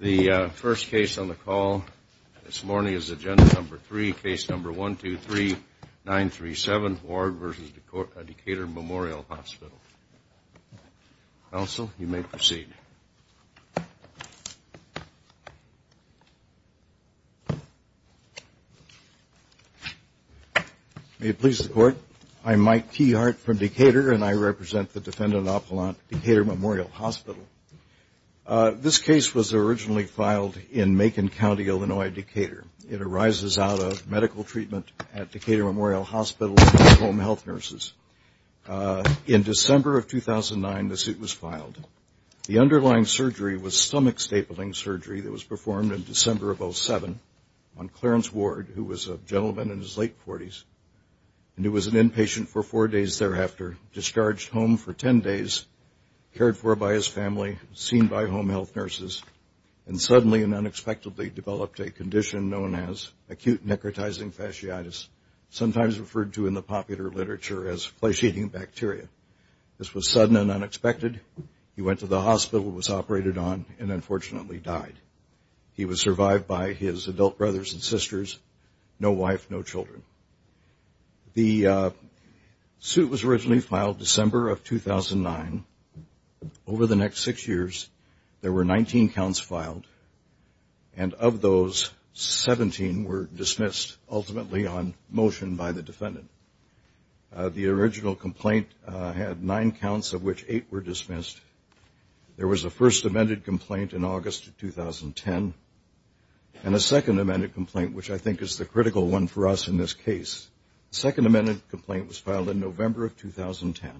The first case on the call this morning is Agenda No. 3, Case No. 123-937, Ward v. Decatur Memorial Hospital. Counsel, you may proceed. May it please the Court, I am Mike T. Hart from Decatur, and I represent the Defendant Appelant, Decatur Memorial Hospital. This case was originally filed in Macon County, Illinois, Decatur. It arises out of medical treatment at Decatur Memorial Hospital for home health nurses. In December of 2009, the suit was filed. The underlying surgery was stomach stapling surgery that was performed in December of 2007 on Clarence Ward, who was a gentleman in his late 40s, and who was an inpatient for four days thereafter, discharged home for ten days, cared for by his family, seen by home health nurses, and suddenly and unexpectedly developed a condition known as acute necrotizing fasciitis, sometimes referred to in the popular literature as fasciating bacteria. This was sudden and unexpected. He went to the hospital, was operated on, and unfortunately died. He was survived by his adult brothers and sisters, no wife, no children. The suit was originally filed December of 2009. Over the next six years, there were 19 counts filed, and of those, 17 were dismissed ultimately on motion by the defendant. The original complaint had nine counts, of which eight were dismissed. There was a first amended complaint in August of 2010, and a second amended complaint, which I think is the critical one for us in this case. The second amended complaint was filed in November of 2010.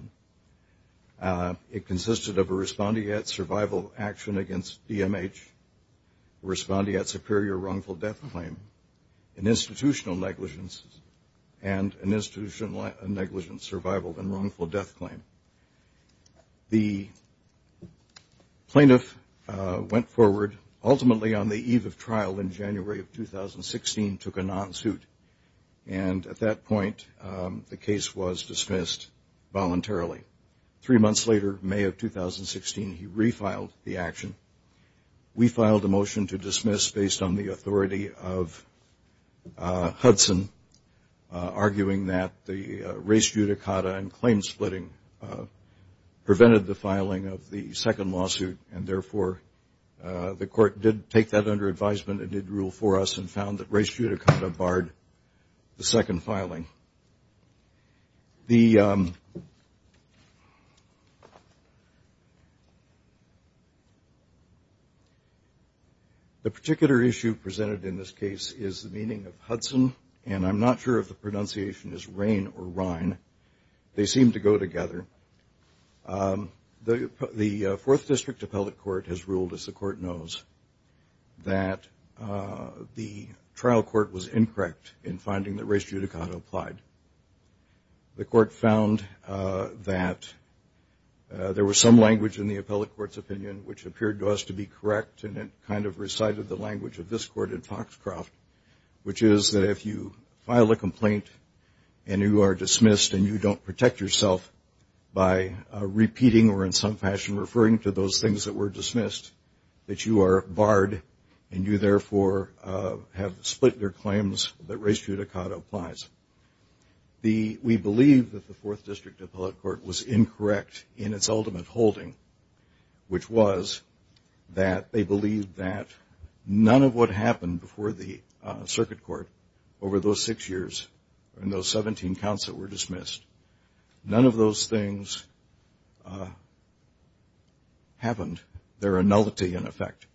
It consisted of a respondeat survival action against DMH, a respondeat superior wrongful death claim, an institutional negligence, and an institutional negligence survival and wrongful death claim. The plaintiff went forward, ultimately on the eve of trial in January of 2016, took a non-suit, and at that point, the case was dismissed voluntarily. Three months later, May of 2016, he refiled the action. We filed a motion to dismiss based on the authority of Hudson, arguing that the race judicata and claim splitting prevented the filing of the second lawsuit, and therefore, the court did take that under advisement and did rule for us and found that race judicata barred the second filing. The particular issue presented in this case is the meaning of Hudson, and I'm not sure if the pronunciation is rain or rine. They seem to go together. The Fourth District Appellate Court has ruled, as the court knows, that the trial court was incorrect in finding that race judicata applied. The court found that there was some language in the appellate court's opinion which appeared to us to be correct, and it kind of recited the language of this court in Foxcroft, which is that if you file a complaint and you are dismissed and you don't protect yourself by repeating or in some fashion referring to those things that were dismissed, that you are barred and you therefore have split your claims that race judicata applies. We believe that the Fourth District Appellate Court was incorrect in its ultimate holding, which was that they believed that none of what happened before the circuit court over those six years and those 17 counts that were dismissed, none of those things happened. They're a nullity in effect.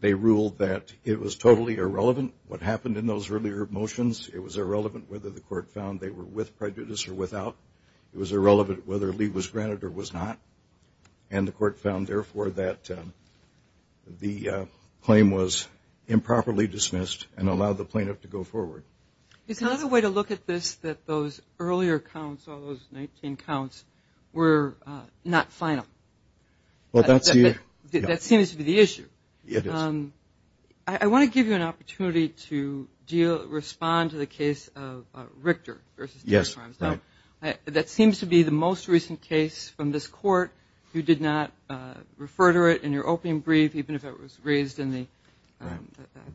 They ruled that it was totally irrelevant what happened in those earlier motions. It was irrelevant whether the court found they were with prejudice or without. It was irrelevant whether Lee was granted or was not, and the court found therefore that the claim was improperly dismissed and allowed the plaintiff to go forward. It's another way to look at this that those earlier counts, all those 19 counts, were not final. That seems to be the issue. I want to give you an opportunity to respond to the case of Richter v. Davenprimes. That seems to be the most recent case from this court. You did not refer to it in your opening brief, even if it was raised in the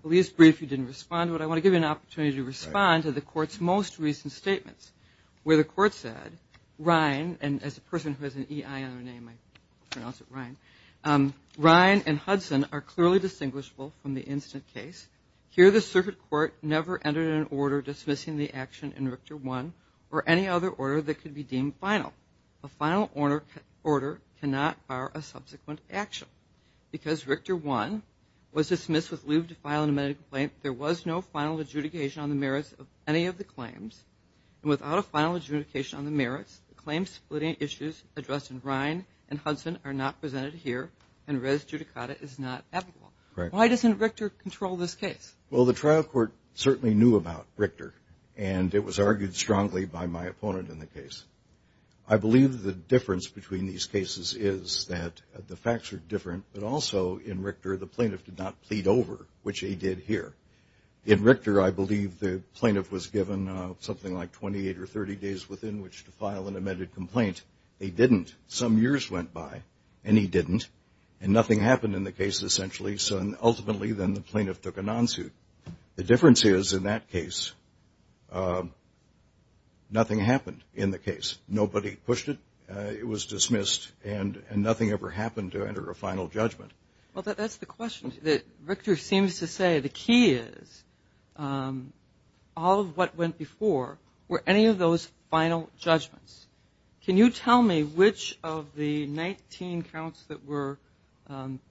brief you didn't have an opportunity to respond to the court's most recent statements where the court said, Ryan, and as a person who has an EI on her name I pronounce it Ryan, Ryan and Hudson are clearly distinguishable from the incident case. Here the circuit court never entered an order dismissing the action in Richter 1 or any other order that could be deemed final. A final order cannot fire a subsequent action because Richter 1 was dismissed with no final adjudication on the merits of any of the claims and without a final adjudication on the merits, the claim splitting issues addressed in Ryan and Hudson are not presented here and res judicata is not applicable. Why doesn't Richter control this case? Well, the trial court certainly knew about Richter and it was argued strongly by my opponent in the case. I believe the difference between these cases is that the facts are different but also in Richter the plaintiff did not plead over, which he did here. In Richter I believe the plaintiff was given something like 28 or 30 days within which to file an amended complaint. He didn't. Some years went by and he didn't and nothing happened in the case essentially so ultimately then the plaintiff took a non-suit. The difference is in that case nothing happened in the case. Nobody pushed it. It was dismissed and nothing ever happened to enter a final judgment. Well, that's the question. Richter seems to say the key is all of what went before were any of those final judgments. Can you tell me which of the 19 counts that were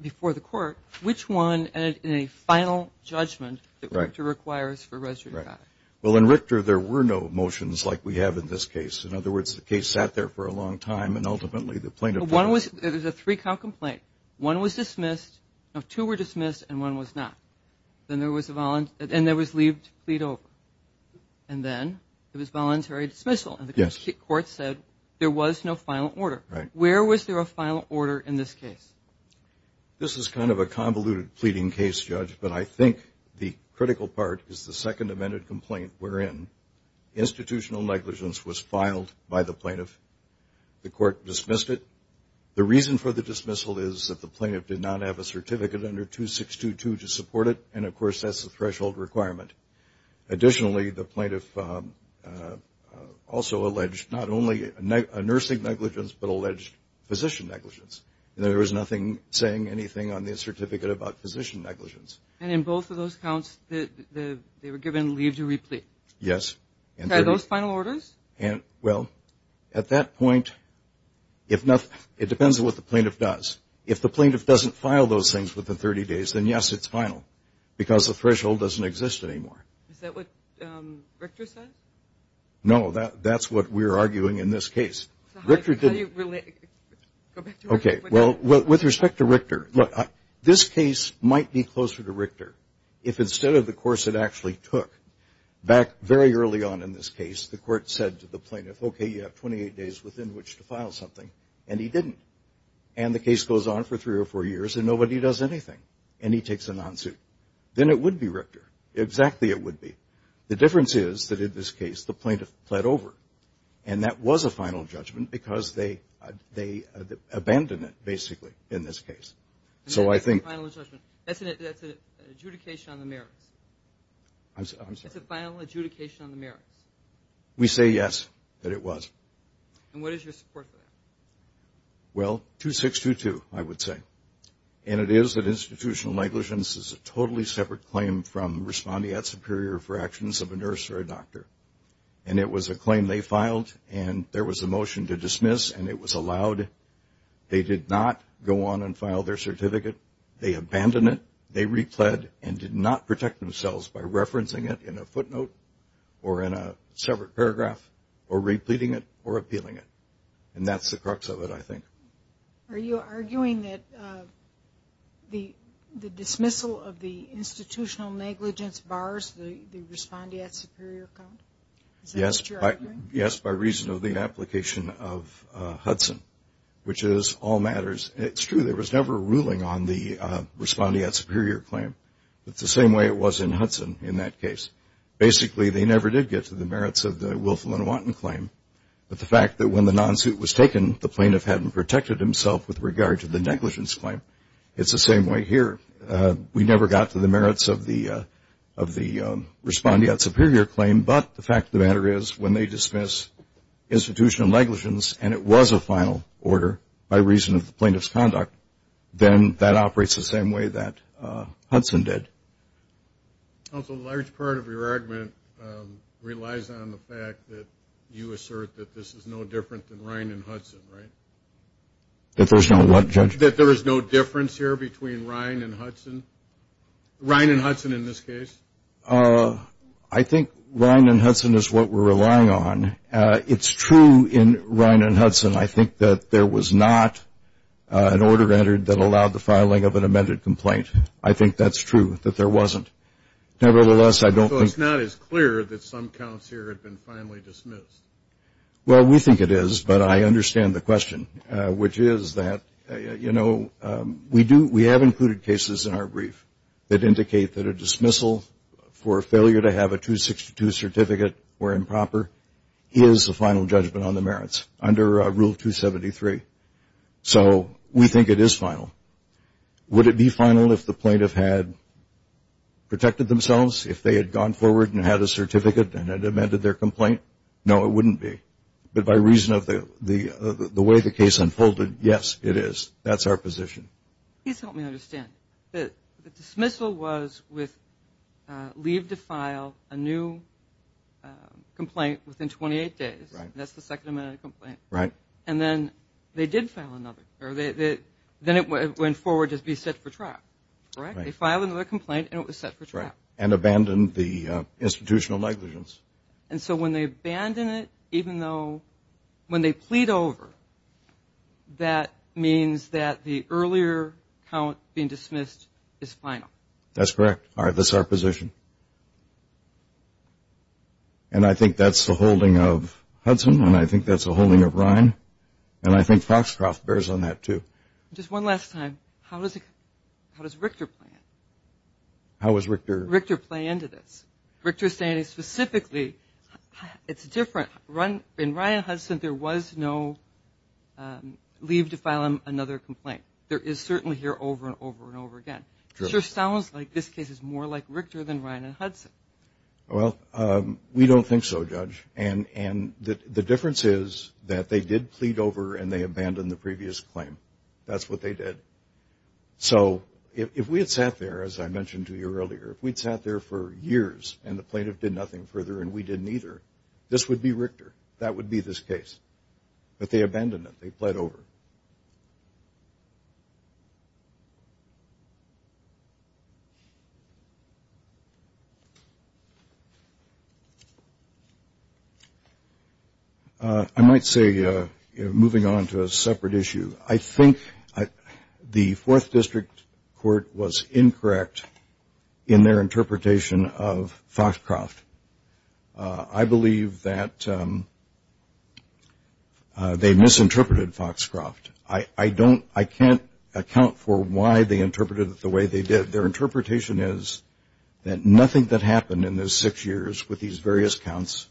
before the court, which one in a final judgment that Richter requires for res judicata? Well, in Richter there were no motions like we have in this case. In other words, the case sat there for a long time and ultimately the plaintiff... There was a three count complaint. One was dismissed. Two were dismissed and one was not. Then there was a leave to plead over and then it was voluntary dismissal. The court said there was no final order. Where was there a final order in this case? This is kind of a convoluted pleading case, Judge, but I think the critical part is the second amended complaint wherein institutional negligence was filed by the plaintiff. The reason for the dismissal is that the plaintiff did not have a certificate under 2622 to support it and, of course, that's a threshold requirement. Additionally, the plaintiff also alleged not only a nursing negligence but alleged physician negligence. There was nothing saying anything on the certificate about physician negligence. And in both of those counts, they were given leave to re-plead? Yes. Are those final orders? Well, at that point, it depends on what the plaintiff does. If the plaintiff doesn't file those things within 30 days, then yes, it's final because the threshold doesn't exist anymore. Is that what Richter said? No, that's what we're arguing in this case. So how do you relate... Okay, well, with respect to Richter, this case might be closer to Richter if instead of the course it actually took, back very early on in this case, the court said to the plaintiff, okay, you have 28 days within which to file something, and he didn't. And the case goes on for three or four years and nobody does anything, and he takes a non-suit. Then it would be Richter. Exactly it would be. The difference is that in this case, the plaintiff pled over, and that was a final judgment because they abandoned it, basically, in this case. So I think... That's an adjudication on the merits. I'm sorry? That's a final adjudication on the merits. We say yes, that it was. And what is your support for that? Well, 2622, I would say. And it is an institutional negligence. It's a totally separate claim from responding at superior for actions of a nurse or a doctor. And it was a claim they filed, and there was a motion to dismiss, and it was allowed. They did not go on and they repled and did not protect themselves by referencing it in a footnote or in a separate paragraph or repleting it or appealing it. And that's the crux of it, I think. Are you arguing that the dismissal of the institutional negligence bars the responding at superior count? Is that what you're arguing? Yes, by reason of the application of Hudson, which is all matters. It's true there was never a ruling on the responding at superior claim. It's the same way it was in Hudson in that case. Basically, they never did get to the merits of the Wilflin-Wanton claim. But the fact that when the non-suit was taken, the plaintiff hadn't protected himself with regard to the negligence claim, it's the same way here. We never got to the merits of the responding at superior claim, but the fact of the matter is when they dismiss institutional negligence and it was a final order by reason of the plaintiff's conduct, then that operates the same way that Hudson did. Counsel, a large part of your argument relies on the fact that you assert that this is no different than Ryan and Hudson, right? That there's no what, Judge? That there is no difference here between Ryan and Hudson? Ryan and Hudson in this case? I think Ryan and Hudson is what we're relying on. It's true in Ryan and Hudson I think that there was not an order entered that allowed the filing of an amended complaint. I think that's true, that there wasn't. Nevertheless, I don't think So it's not as clear that some counts here have been finally dismissed? Well, we think it is, but I understand the question, which is that, you know, we do, we've included cases in our brief that indicate that a dismissal for failure to have a 262 certificate or improper is a final judgment on the merits under Rule 273. So we think it is final. Would it be final if the plaintiff had protected themselves, if they had gone forward and had a certificate and had amended their complaint? No, it wouldn't be. But by reason of the way the case unfolded, yes, it is. That's our position. Please help me understand. The dismissal was with leave to file a new complaint within 28 days. That's the second amended complaint. Right. And then they did file another. Then it went forward to be set for trial, correct? They filed another complaint and it was set for trial. And abandoned the institutional negligence. And so when they abandon it, even though, when they plead over, that means that the earlier count being dismissed is final. That's correct. All right. That's our position. And I think that's the holding of Hudson and I think that's the holding of Ryan. And I think Foxcroft bears on that too. Just one last time. How does Richter play into this? Richter is saying specifically, it's different. In Ryan Hudson, there was no leave to file another complaint. There is certainly here over and over and over again. Sure sounds like this case is more like Richter than Ryan and Hudson. Well, we don't think so, Judge. And the difference is that they did plead over and they abandoned the previous claim. That's what they did. So if we had sat there, as I mentioned to you earlier, if we'd sat there for years and the plaintiff did nothing further and we didn't either, this would be Richter. That would be this case. But they abandoned it. They plead over. I might say, moving on to a separate issue, I think the 4th District Court was incorrect in their interpretation of Foxcroft. I believe that they misinterpreted Foxcroft. I can't account for why they interpreted it the way they did. Their interpretation is that nothing that happened in those 6 years with these various counts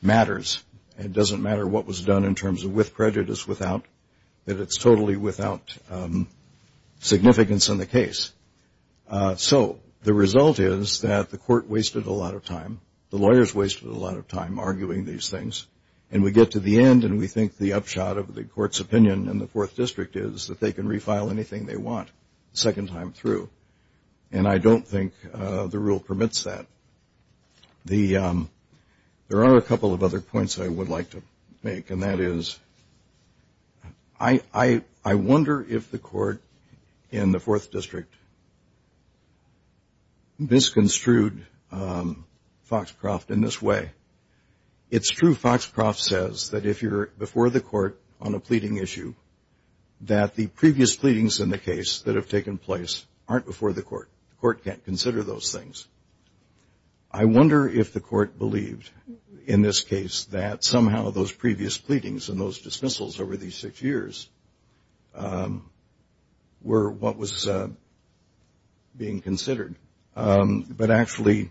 matters. It doesn't matter what was done in terms of with prejudice, without, that it's totally without significance in the case. So the result is that the court wasted a lot of time. The lawyers wasted a lot of time arguing these things. And we get to the end and we think the upshot of the court's opinion in the 4th District is that they can refile anything they want a second time through. And I don't think the rule permits that. There are a couple of other points I would like to make and that is I wonder if the court in the 4th District misconstrued Foxcroft in this way. It's true Foxcroft says that if you're before the court on a pleading issue, that the previous pleadings in the case that have taken place aren't before the court. The court can't consider those things. I wonder if the court believed in this case that somehow those previous pleadings and those dismissals over these six years were what was being considered. But actually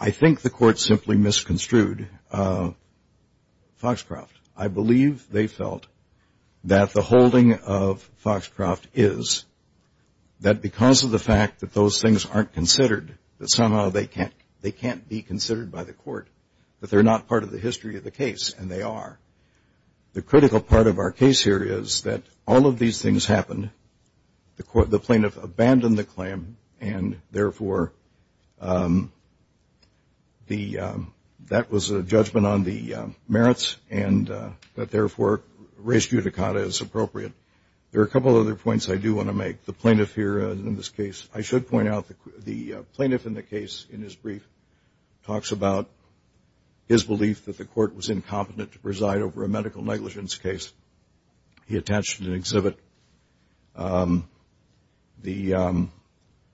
I think the court simply misconstrued Foxcroft. I believe they felt that the holding of Foxcroft is that because of the fact that those things aren't considered, that somehow they can't be considered by the court, that they're not part of the history of the case and they are. The critical part of our case here is that all of these things happened. The plaintiff abandoned the claim and therefore that was a judgment on the merits and therefore res judicata is appropriate. There are a couple of other points I do want to make. The plaintiff here in this case, I should point out, the plaintiff in the case in his brief talks about his belief that the court was incompetent to preside over a medical negligence case. He attached an exhibit. The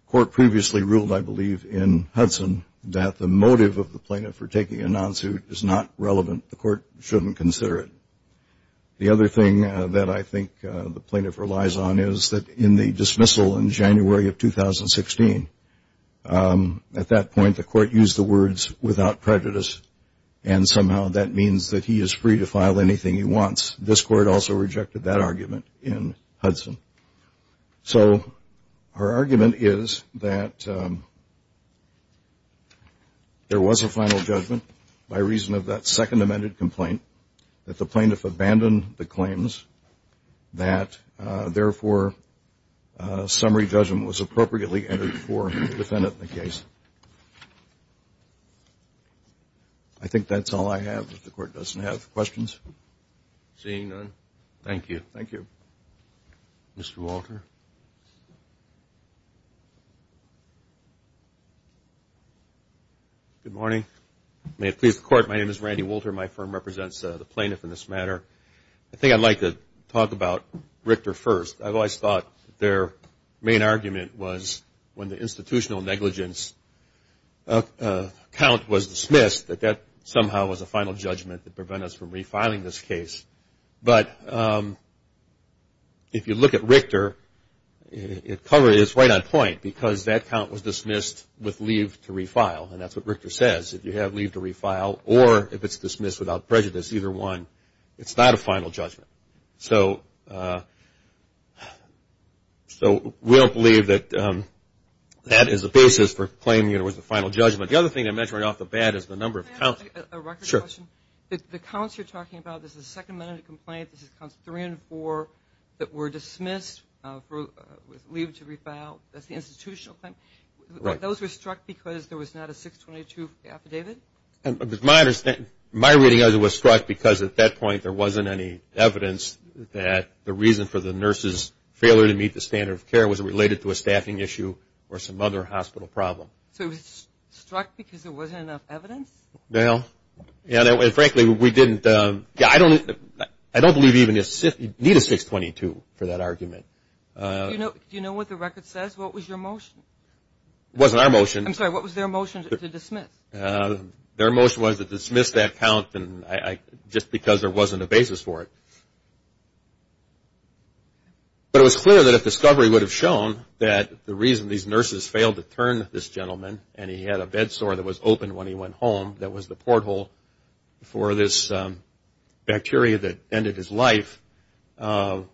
court previously ruled, I believe, in Hudson that the motive of the plaintiff for taking a non-suit is not relevant. The court shouldn't consider it. The other thing that I think the plaintiff relies on is that in the dismissal in January of 2016, at that point the court used the words without prejudice and somehow that means that he is free to file anything he wants. This court also rejected that argument in Hudson. So our argument is that there was a final judgment by reason of that second amended complaint that the plaintiff abandoned the claims that therefore summary judgment was appropriately entered for the defendant in the case. I think that's all I have. If the court doesn't have questions. Seeing none, thank you. Thank you. Mr. Walter. Good morning. May it please the court, my name is Randy Walter. My firm represents the I think I'd like to talk about Richter first. I've always thought their main argument was when the institutional negligence count was dismissed that that somehow was a final judgment that prevented us from refiling this case. But if you look at Richter, it's right on point because that count was dismissed with leave to refile and that's what Richter says. If you have leave to refile or if it's dismissed without prejudice, either one, it's not a final judgment. So we don't believe that that is the basis for claiming it was a final judgment. The other thing I mentioned right off the bat is the number of counts. Can I ask a record question? Sure. The counts you're talking about, this is a second amended complaint, this is counts three and four that were dismissed with leave to refile, that's the institutional claim. Those were struck because there was not a 622 affidavit? My reading of it was struck because at that point there wasn't any evidence that the reason for the nurse's failure to meet the standard of care was related to a staffing issue or some other hospital problem. So it was struck because there wasn't enough evidence? No. And frankly, we didn't, I don't believe even, you need a 622 for that argument. Do you know what the record says? What was your motion? It wasn't our motion. I'm sorry, what was their motion to dismiss? Their motion was to dismiss that count just because there wasn't a basis for it. But it was clear that if discovery would have shown that the reason these nurses failed to turn this gentleman and he had a bed sore that was open when he went home, that was the porthole for this bacteria that ended his life, was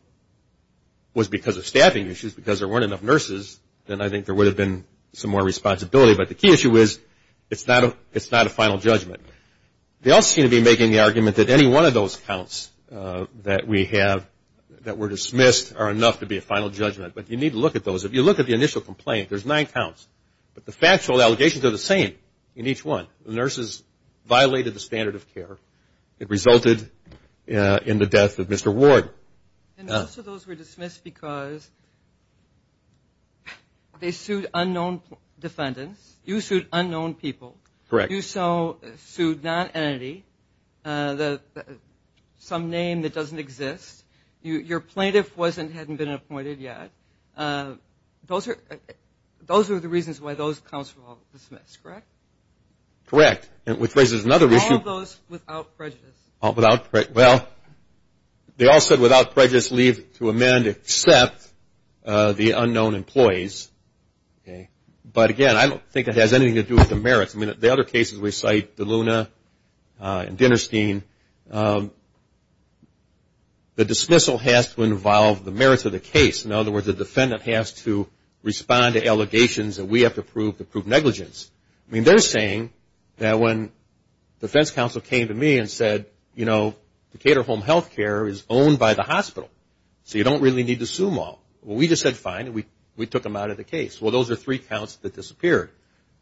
because of staffing issues, because there weren't enough nurses, then I think there would have been some more responsibility. But the key issue is it's not a final judgment. They also seem to be making the argument that any one of those counts that we have that were dismissed are enough to be a final judgment. But you need to look at those. If you look at the initial complaint, there's nine counts, but the factual allegations are the same in each one. Nurses violated the standard of care. It resulted in the death of Mr. Ward. And most of those were dismissed because they sued unknown defendants, you sued unknown people, you sued non-entity, some name that doesn't exist, your plaintiff hadn't been appointed yet. Those are the reasons why those counts were all dismissed, correct? Correct. Which raises another issue. All of those without prejudice? Well, they all said without prejudice leave to amend except the unknown employees. But again, I don't think it has anything to do with the merits. The other cases we cite, DeLuna and Dinnerstein, the dismissal has to involve the merits of the case. In other words, the defendant has to respond to allegations that we have to prove to prove negligence. They're saying that when the defense counsel came to me and said, you know, Decatur Home Health Care is owned by the hospital, so you don't really need to sue them all. We just said fine and we took them out of the case. Well, those are three counts that disappeared,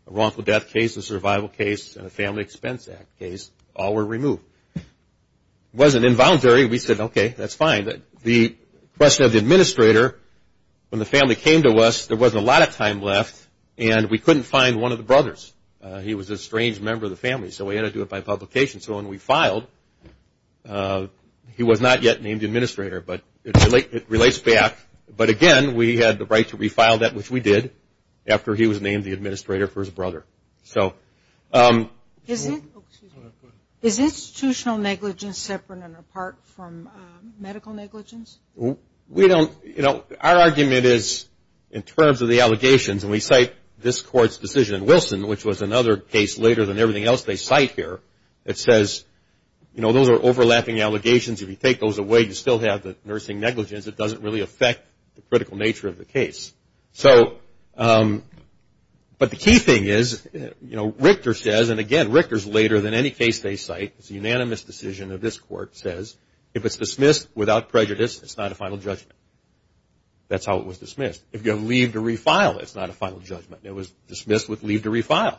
a wrongful death case, a survival case, and a Family Expense Act case, all were removed. Wasn't involuntary, we said okay, that's fine. The question of the administrator, when the family came to us, there wasn't a lot of time left, and we couldn't find one of the brothers. He was a strange member of the family, so we had to do it by publication. So when we filed, he was not yet named administrator, but it relates back. But again, we had the right to refile that, which we did, after he was named the administrator for his brother. Is institutional negligence separate and apart from medical negligence? We don't, you know, our argument is in terms of the allegations, and we cite this court's decision in Wilson, which was another case later than everything else they cite here, it says, you know, those are overlapping allegations. If you take those away, you still have the nursing negligence. It doesn't really affect the critical nature of the case. So, but the key thing is, you know, Richter says, and again, Richter's later than any case they cite, it's a unanimous decision of this court, says, if it's dismissed without prejudice, it's not a final judgment. That's how it was dismissed. If you have leave to refile, it's not a final judgment. It was dismissed with leave to refile.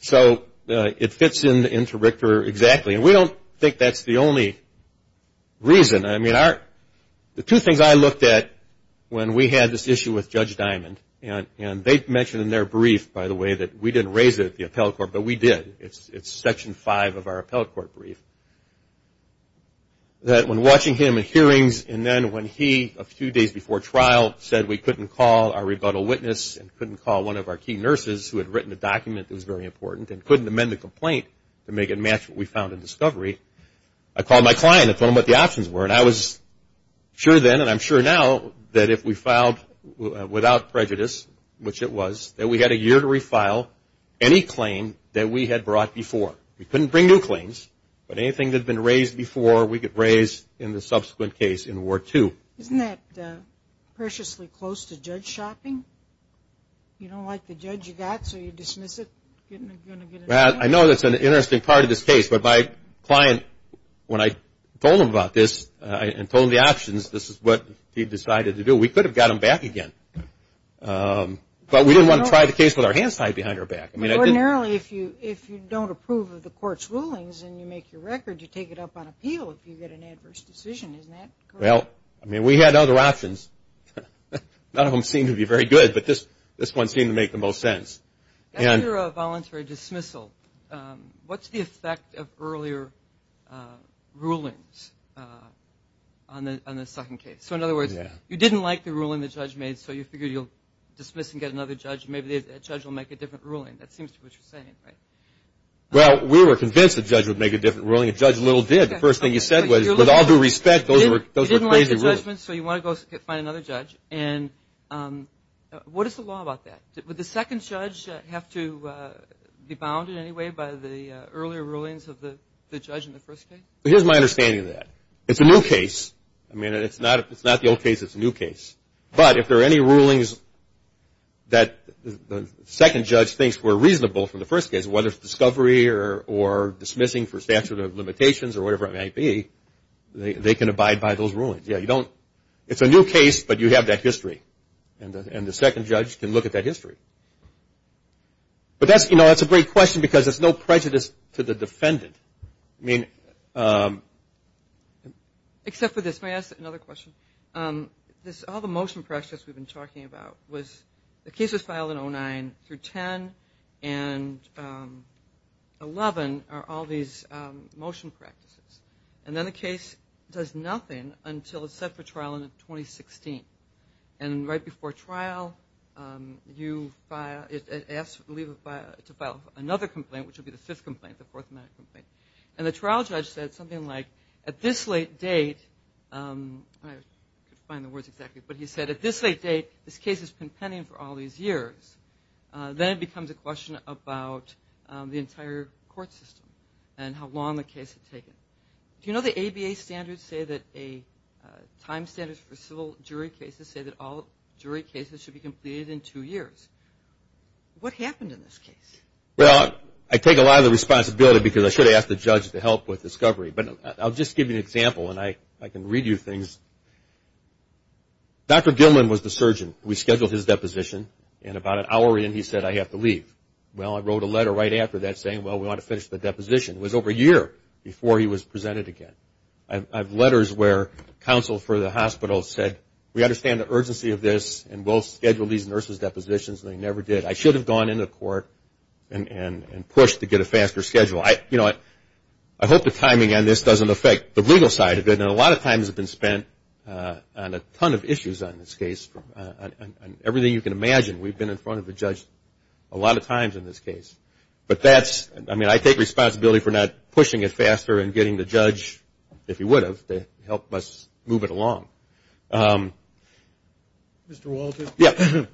So it fits into Richter exactly, and we don't think that's the only reason. I mean, the two things I looked at when we had this issue with Judge Diamond, and they mentioned in their brief, by the way, that we didn't raise it at the appellate court, but we did. It's section five of our appellate court brief, that when watching him in hearings, and then when he, a few days before trial, said we couldn't call our rebuttal witness, and couldn't call one of our key nurses who had written a document that was very important, and couldn't amend the complaint to make it match what we found in discovery, I called my client and told him what the options were, and I was sure then, and I'm sure now, that if we filed without prejudice, which it was, that we had a year to refile any claim that we had brought before. We couldn't bring new claims, but anything that had been raised before, we could raise in the subsequent case in Ward 2. Isn't that preciously close to judge shopping? You don't like the judge you got, so you dismiss it? I know that's an interesting part of this case, but my client, when I told him about this, and told him the options, this is what he decided to do. We could have got him back again, but we didn't want to try the case with our hands tied behind our back. Ordinarily, if you don't approve of the court's rulings, and you make your record, you take it up on appeal if you get an adverse decision, isn't that correct? We had other options, none of them seemed to be very good, but this one seemed to make the most sense. After a voluntary dismissal, what's the effect of earlier rulings on the second case? So in other words, you didn't like the ruling the judge made, so you figured you'll dismiss and get another judge. Maybe the judge will make a different ruling, that seems to be what you're saying, right? Well, we were convinced the judge would make a different ruling, and Judge Little did. The first thing he said was, with all due respect, those were crazy rulings. You didn't like the judgment, so you want to go find another judge, and what is the law about that? Would the second judge have to be bounded in any way by the earlier rulings of the judge in the first case? Here's my understanding of that. It's a new case. I mean, it's not the old case, it's a new case. But if there are any rulings that the second judge thinks were reasonable from the first case, whether it's discovery or dismissing for statute of limitations or whatever it might be, they can abide by those rulings. It's a new case, but you have that history, and the second judge can look at that history. But that's a great question, because it's no prejudice to the defendant. I mean, except for this, may I ask another question? All the motion practices we've been talking about was, the case was filed in 2009-2010, and 2011 are all these motion practices. And then the case does nothing until it's set for trial in 2016. And right before trial, it asks to file another complaint, which would be the fifth complaint, the fourth complaint. And the trial judge said something like, at this late date, I can't find the words exactly, but he said, at this late date, this case has been pending for all these years. Then it becomes a question about the entire court system and how long the case had taken. Do you know the ABA standards say that a time standard for civil jury cases say that all jury cases should be completed in two years? What happened in this case? Well, I take a lot of the responsibility, because I should have asked the judge to help with discovery. But I'll just give you an example, and I can read you things. Dr. Gilman was the surgeon. We scheduled his deposition, and about an hour in, he said, I have to leave. Well, I wrote a letter right after that saying, well, we want to finish the deposition. It was over a year before he was presented again. I have letters where counsel for the hospital said, we understand the urgency of this, and we'll schedule these nurses' depositions, and they never did. I should have gone into the court and pushed to get a faster schedule. I hope the timing on this doesn't affect the legal side of it, and a lot of time has been spent on a ton of issues on this case, on everything you can imagine. We've been in front of the judge a lot of times in this case. But that's, I mean, I take responsibility for not pushing it faster and getting the judge, if he would have, to help us move it along. Mr. Walters? Yeah.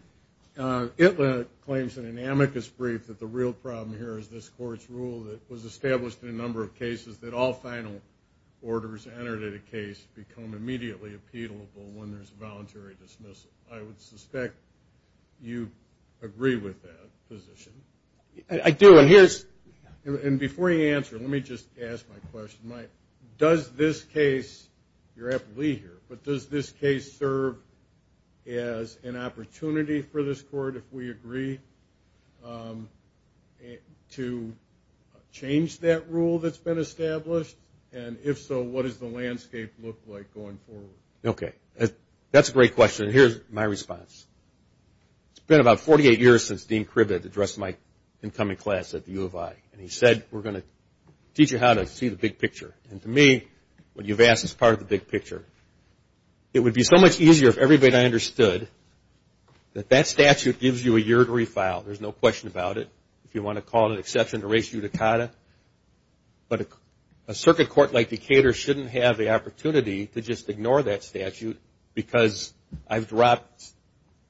Well, it claims in an amicus brief that the real problem here is this court's rule that was established in a number of cases that all final orders entered in a case become immediately appealable when there's a voluntary dismissal. I would suspect you agree with that position. I do, and here's... And before you answer, let me just ask my question. Does this case, you're aptly here, but does this case serve as an opportunity for this court, if we agree, to change that rule that's been established? And if so, what does the landscape look like going forward? Okay. That's a great question. Here's my response. It's been about 48 years since Dean Krivett addressed my incoming class at the U of I, and he said, we're going to teach you how to see the big picture. And to me, what you've asked is part of the big picture. It would be so much easier if everybody understood that that statute gives you a year to refile. There's no question about it, if you want to call it an exception to res judicata. But a circuit court like Decatur shouldn't have the opportunity to just ignore that statute because I've dropped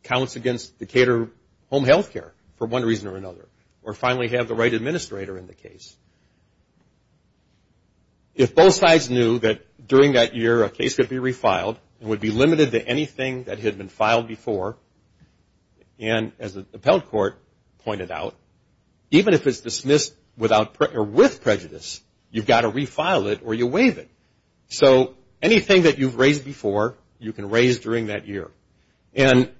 counts against Decatur Home Health Care for one reason or another, or finally have the right administrator in the case. If both sides knew that during that year, a case could be refiled and would be limited to anything that had been filed before, and as the appellate court pointed out, even if it's dismissed with prejudice, you've got to refile it or you waive it. So anything that you've raised before, you can raise during that year. And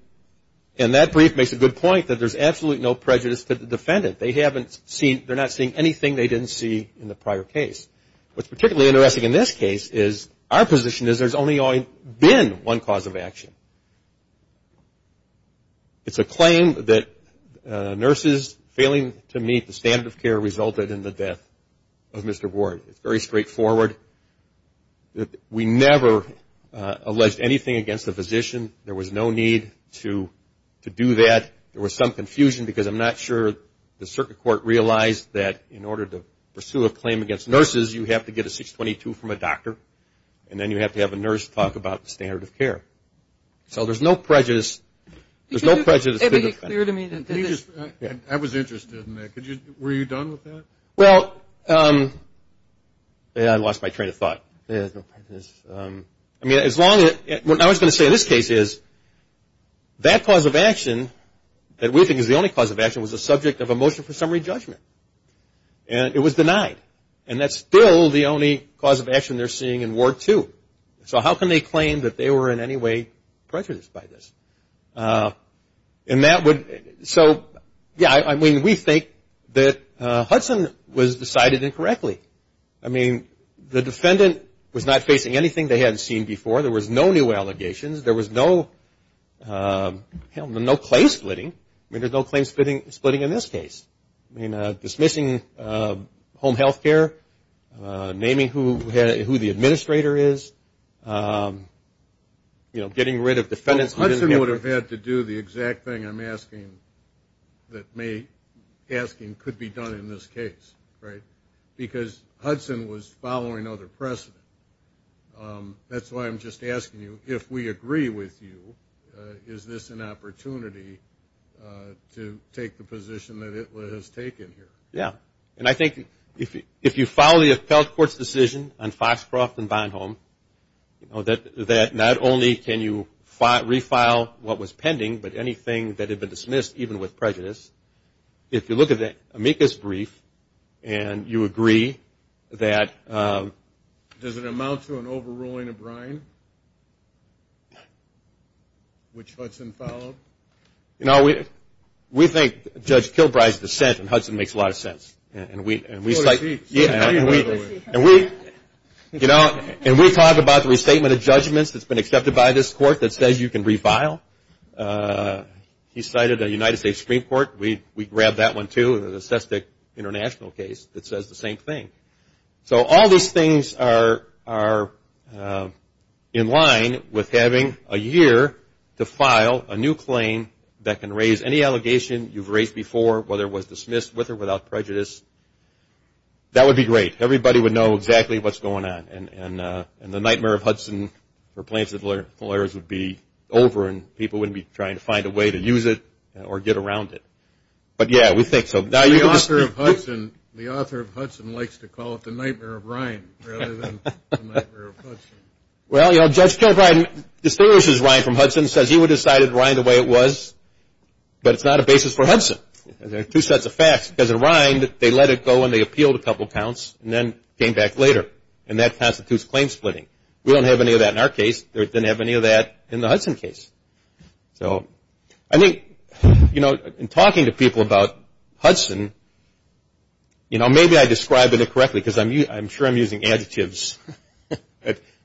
that brief makes a good point that there's absolutely no prejudice to the defendant. They haven't seen, they're not seeing anything they didn't see in the prior case. What's particularly interesting in this case is our position is there's only been one cause of action. It's a claim that nurses failing to meet the standard of care resulted in the death of Mr. Ward. It's very straightforward. We never alleged anything against the physician. There was no need to do that. There was some confusion because I'm not sure the circuit court realized that in order to pursue a claim against nurses, you have to get a 622 from a doctor, and then you have to have a nurse talk about the standard of care. So there's no prejudice to the defendant. I was interested in that. Were you done with that? Well, I lost my train of thought. I mean, as long as, what I was going to say in this case is that cause of action that we think is the only cause of action was the subject of a motion for summary judgment, and it was denied. And that's still the only cause of action they're seeing in Ward 2. So how can they claim that they were in any way prejudiced by this? And that would, so, yeah, I mean, we think that Hudson was decided incorrectly. I mean, the defendant was not facing anything they hadn't seen before. There was no new allegations. There was no claim splitting. I mean, there's no claim splitting in this case. I mean, dismissing home health care, naming who the administrator is, you know, getting rid of defendants. Hudson would have had to do the exact thing I'm asking that may, asking could be done in this case, right? Because Hudson was following other precedent. That's why I'm just asking you, if we agree with you, is this an opportunity to take the position that it has taken here? Yeah. And I think if you follow the appellate court's decision on Foxcroft and Bonhomme, you know, that not only can you refile what was pending, but anything that had been dismissed, even with prejudice, if you look at the amicus brief and you agree that... Does it amount to an overruling of Bryan? Which Hudson followed? You know, we think Judge Kilbride's dissent in Hudson makes a lot of sense. And we... Full receipt. Yeah, and we... Full receipt. You know, and we talk about the restatement of judgments that's been accepted by this court that says you can refile. He cited a United States Supreme Court. We grabbed that one, too, in the SESTIC international case that says the same thing. So all these things are in line with having a year to file a new claim that can raise any allegation you've raised before, whether it was dismissed with or without prejudice. That would be great. Everybody would know exactly what's going on, and the nightmare of Hudson for plaintiff's lawyers would be over and people wouldn't be trying to find a way to use it or get around it. But, yeah, we think so. The author of Hudson likes to call it the nightmare of Ryan rather than the nightmare of Hudson. Well, you know, Judge Kilbride distortions Ryan from Hudson, says he would have decided Ryan the way it was, but it's not a basis for Hudson. There are two sets of facts. Because of Ryan, they let it go and they appealed a couple of counts and then came back later, and that constitutes claim splitting. We don't have any of that in our case. They didn't have any of that in the Hudson case. So I think, you know, in talking to people about Hudson, you know, maybe I described it incorrectly because I'm sure I'm using adjectives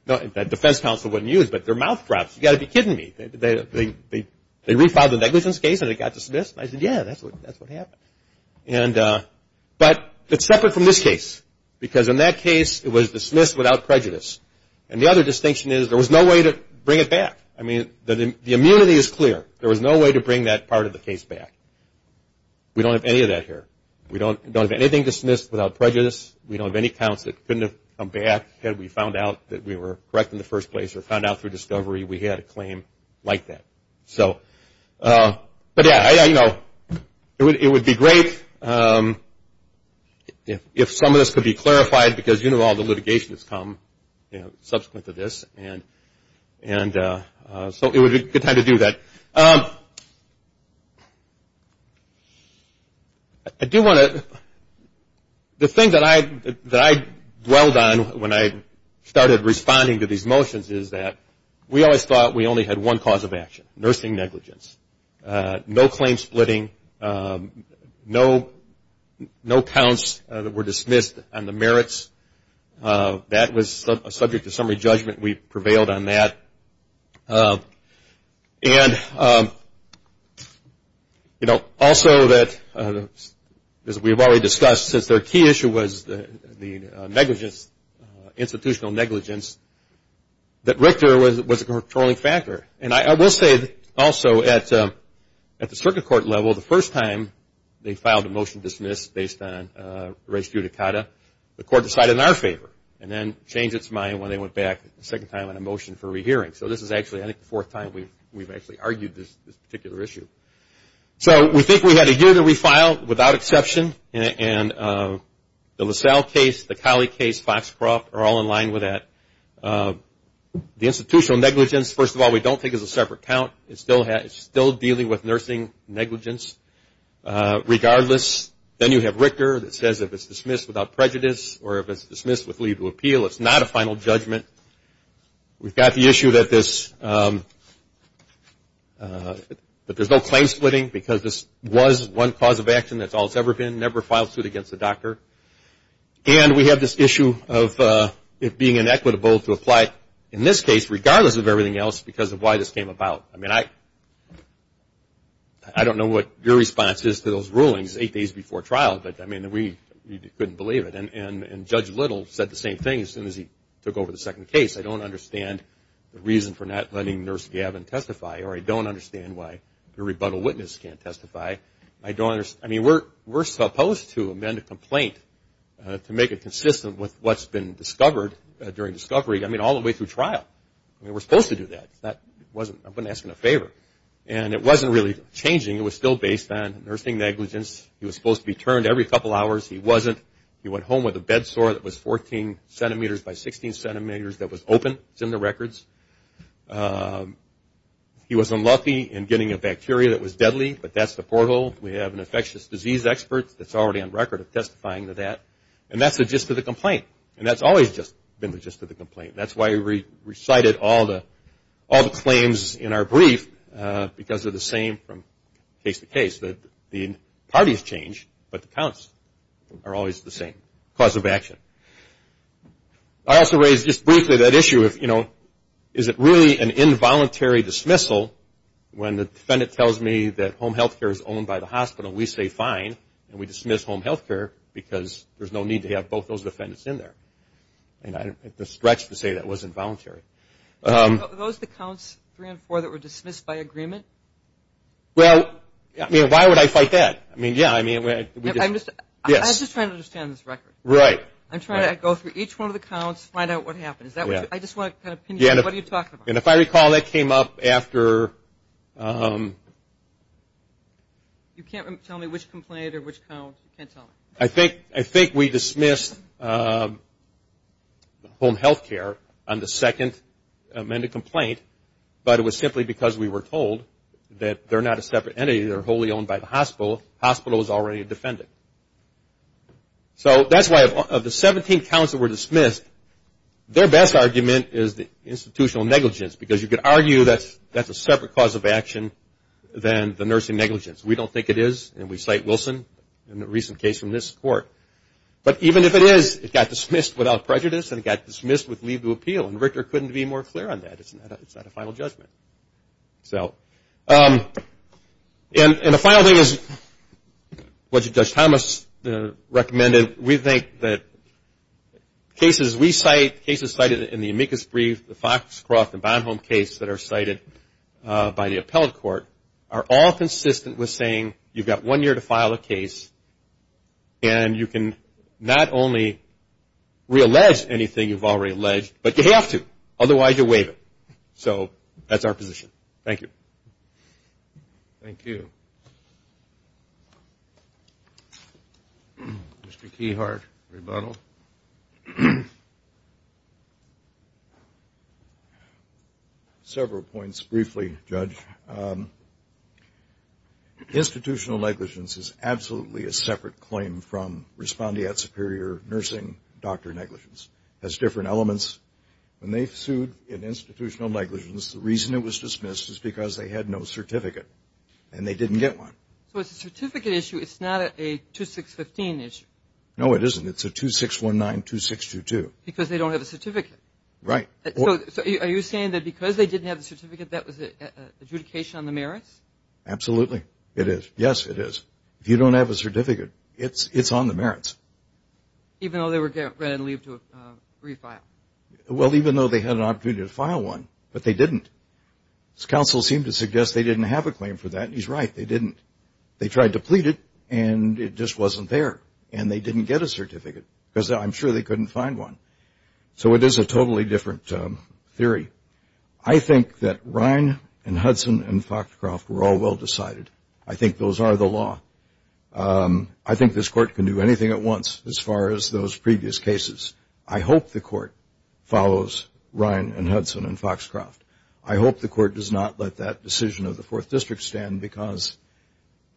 that defense counsel wouldn't use, but they're mouth drops. You've got to be kidding me. They re-filed the negligence case and it got dismissed, and I said, yeah, that's what happened. But it's separate from this case because in that case it was dismissed without prejudice. And the other distinction is there was no way to bring it back. I mean, the immunity is clear. There was no way to bring that part of the case back. We don't have any of that here. We don't have anything dismissed without prejudice. We don't have any counts that couldn't have come back had we found out that we were correct in the first place or found out through discovery we had a claim like that. So, but, yeah, you know, it would be great if some of this could be clarified because, you know, all the litigation has come, you know, subsequent to this. And so it would be a good time to do that. I do want to, the thing that I dwelled on when I started responding to these motions is that we always thought we only had one cause of action, nursing negligence. No claim splitting. No counts that were dismissed on the merits. That was subject to summary judgment. We prevailed on that. And, you know, also that, as we've already discussed, since their key issue was the negligence, institutional negligence, that Richter was a controlling factor. And I will say also at the circuit court level, the first time they filed a motion dismissed based on res judicata, the court decided in our favor and then changed its mind when they went back a second time on a motion for rehearing. So this is actually, I think, the fourth time we've actually argued this particular issue. So we think we had a year to refile without exception. And the LaSalle case, the Colley case, Foxcroft are all in line with that. The institutional negligence, first of all, we don't think is a separate count. It's still dealing with nursing negligence. Regardless, then you have Richter that says if it's dismissed without prejudice or if it's dismissed with legal appeal, it's not a final judgment. We've got the issue that there's no claim splitting because this was one cause of action, that's all it's ever been, never filed suit against the doctor. And we have this issue of it being inequitable to apply, in this case, regardless of everything else, because of why this came about. I mean, I don't know what your response is to those rulings eight days before trial, but, I mean, we couldn't believe it. And Judge Little said the same thing as soon as he took over the second case, I don't understand the reason for not letting Nurse Gavin testify or I don't understand why the rebuttal witness can't testify. I mean, we're supposed to amend a complaint to make it consistent with what's been discovered during discovery, I mean, all the way through trial. I mean, we're supposed to do that. I wasn't asking a favor. And it wasn't really changing. It was still based on nursing negligence. He was supposed to be turned every couple hours. He wasn't. He went home with a bed sore that was 14 centimeters by 16 centimeters that was open. It's in the records. He was unlucky in getting a bacteria that was deadly, but that's the porthole. We have an infectious disease expert that's already on record of testifying to that. And that's the gist of the complaint, and that's always been the gist of the complaint. That's why we recited all the claims in our brief, because they're the same from case to case. The parties change, but the counts are always the same. Cause of action. I also raised just briefly that issue of, you know, is it really an involuntary dismissal when the defendant tells me that home health care is owned by the hospital, we say fine, and we dismiss home health care because there's no need to have both those defendants in there. And I don't think it's a stretch to say that was involuntary. Were those the counts three and four that were dismissed by agreement? Well, I mean, why would I fight that? I mean, yeah. I was just trying to understand this record. Right. I'm trying to go through each one of the counts, find out what happened. I just want to kind of pin you in. What are you talking about? And if I recall, that came up after... You can't tell me which complaint or which count. You can't tell me. I think we dismissed home health care on the second amended complaint, but it was simply because we were told that they're not a separate entity. They're wholly owned by the hospital. The hospital is already a defendant. So that's why of the 17 counts that were dismissed, their best argument is the institutional negligence because you could argue that's a separate cause of action than the nursing negligence. We don't think it is, and we cite Wilson in a recent case from this court. But even if it is, it got dismissed without prejudice and it got dismissed with leave to appeal, and Richter couldn't be more clear on that. It's not a final judgment. And the final thing is what Judge Thomas recommended. We think that cases we cite, cases cited in the amicus brief, the Foxcroft and Bonhomme case that are cited by the appellate court, are all consistent with saying you've got one year to file a case and you can not only reallege anything you've already alleged, but you have to, otherwise you're waiving. So that's our position. Thank you. Thank you. Mr. Keyhart, rebuttal. Several points briefly, Judge. Institutional negligence is absolutely a separate claim from respondeat superior nursing doctor negligence. It has different elements. When they sued in institutional negligence, the reason it was dismissed is because they had no certificate and they didn't get one. So it's a certificate issue. It's not a 2615 issue. No, it isn't. It's a 26192622. Because they don't have a certificate. Right. So are you saying that because they didn't have the certificate, that was an adjudication on the merits? It is. Yes, it is. If you don't have a certificate, it's on the merits. Even though they were granted leave to refile? Well, even though they had an opportunity to file one, but they didn't. Counsel seemed to suggest they didn't have a claim for that, and he's right. They didn't. They tried to plead it, and it just wasn't there, and they didn't get a certificate, because I'm sure they couldn't find one. So it is a totally different theory. I think that Ryan and Hudson and Foxcroft were all well decided. I think those are the law. I think this court can do anything at once as far as those previous cases. I hope the court follows Ryan and Hudson and Foxcroft. I hope the court does not let that decision of the 4th District stand, because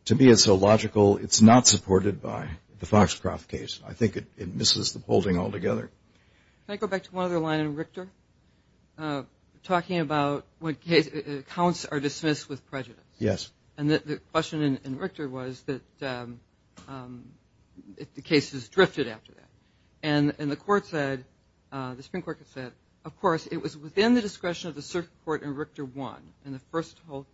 to me it's illogical. It's not supported by the Foxcroft case. I think it misses the holding altogether. Can I go back to one other line in Richter, talking about when counts are dismissed with prejudice? Yes. And the question in Richter was that the case is drifted after that. And the Supreme Court said, of course, it was within the discretion of the circuit court in Richter I in the first whole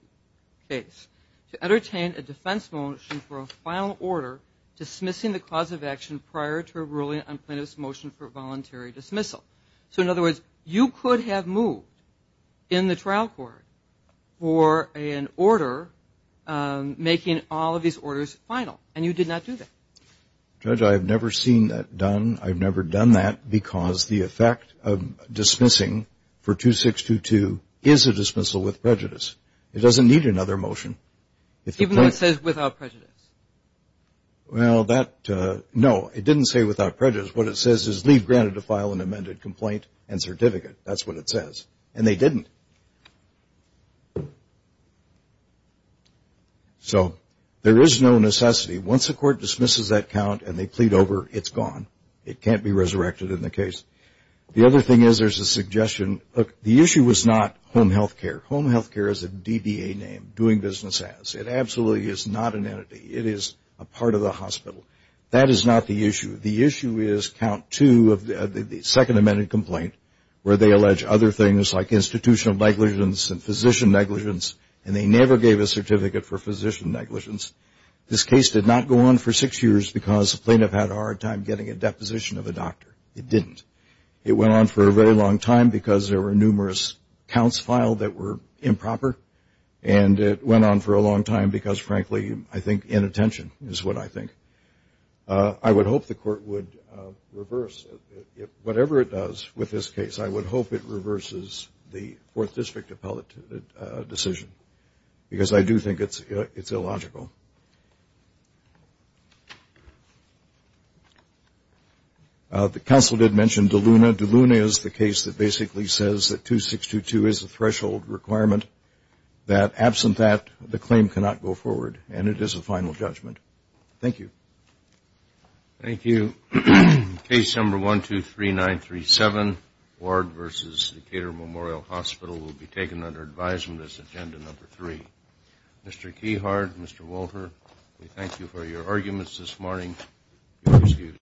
case to entertain a defense motion for a final order dismissing the cause of action prior to a ruling on plaintiff's motion for voluntary dismissal. So, in other words, you could have moved in the trial court for an order making all of these orders final, and you did not do that. Judge, I have never seen that done. I've never done that because the effect of dismissing for 2622 is a dismissal with prejudice. It doesn't need another motion. Even though it says without prejudice. Well, that, no, it didn't say without prejudice. What it says is leave granted to file an amended complaint and certificate. That's what it says. And they didn't. So, there is no necessity. Once the court dismisses that count and they plead over, it's gone. It can't be resurrected in the case. The other thing is there's a suggestion. Look, the issue was not home health care. Home health care is a DBA name, doing business as. It absolutely is not an entity. It is a part of the hospital. That is not the issue. The issue is count two of the second amended complaint, where they allege other things like institutional negligence and physician negligence, and they never gave a certificate for physician negligence. This case did not go on for six years because the plaintiff had a hard time getting a deposition of a doctor. It didn't. It went on for a very long time because there were numerous counts filed that were improper, and it went on for a long time because, frankly, I think inattention is what I think. I would hope the court would reverse it. Whatever it does with this case, I would hope it reverses the Fourth District appellate decision, because I do think it's illogical. The counsel did mention DeLuna. DeLuna is the case that basically says that 2622 is a threshold requirement, that absent that, the claim cannot go forward, and it is a final judgment. Thank you. Thank you. Case number 123937, Ward v. Decatur Memorial Hospital, will be taken under advisement as agenda number three. Mr. Keyhart, Mr. Walter, we thank you for your arguments this morning.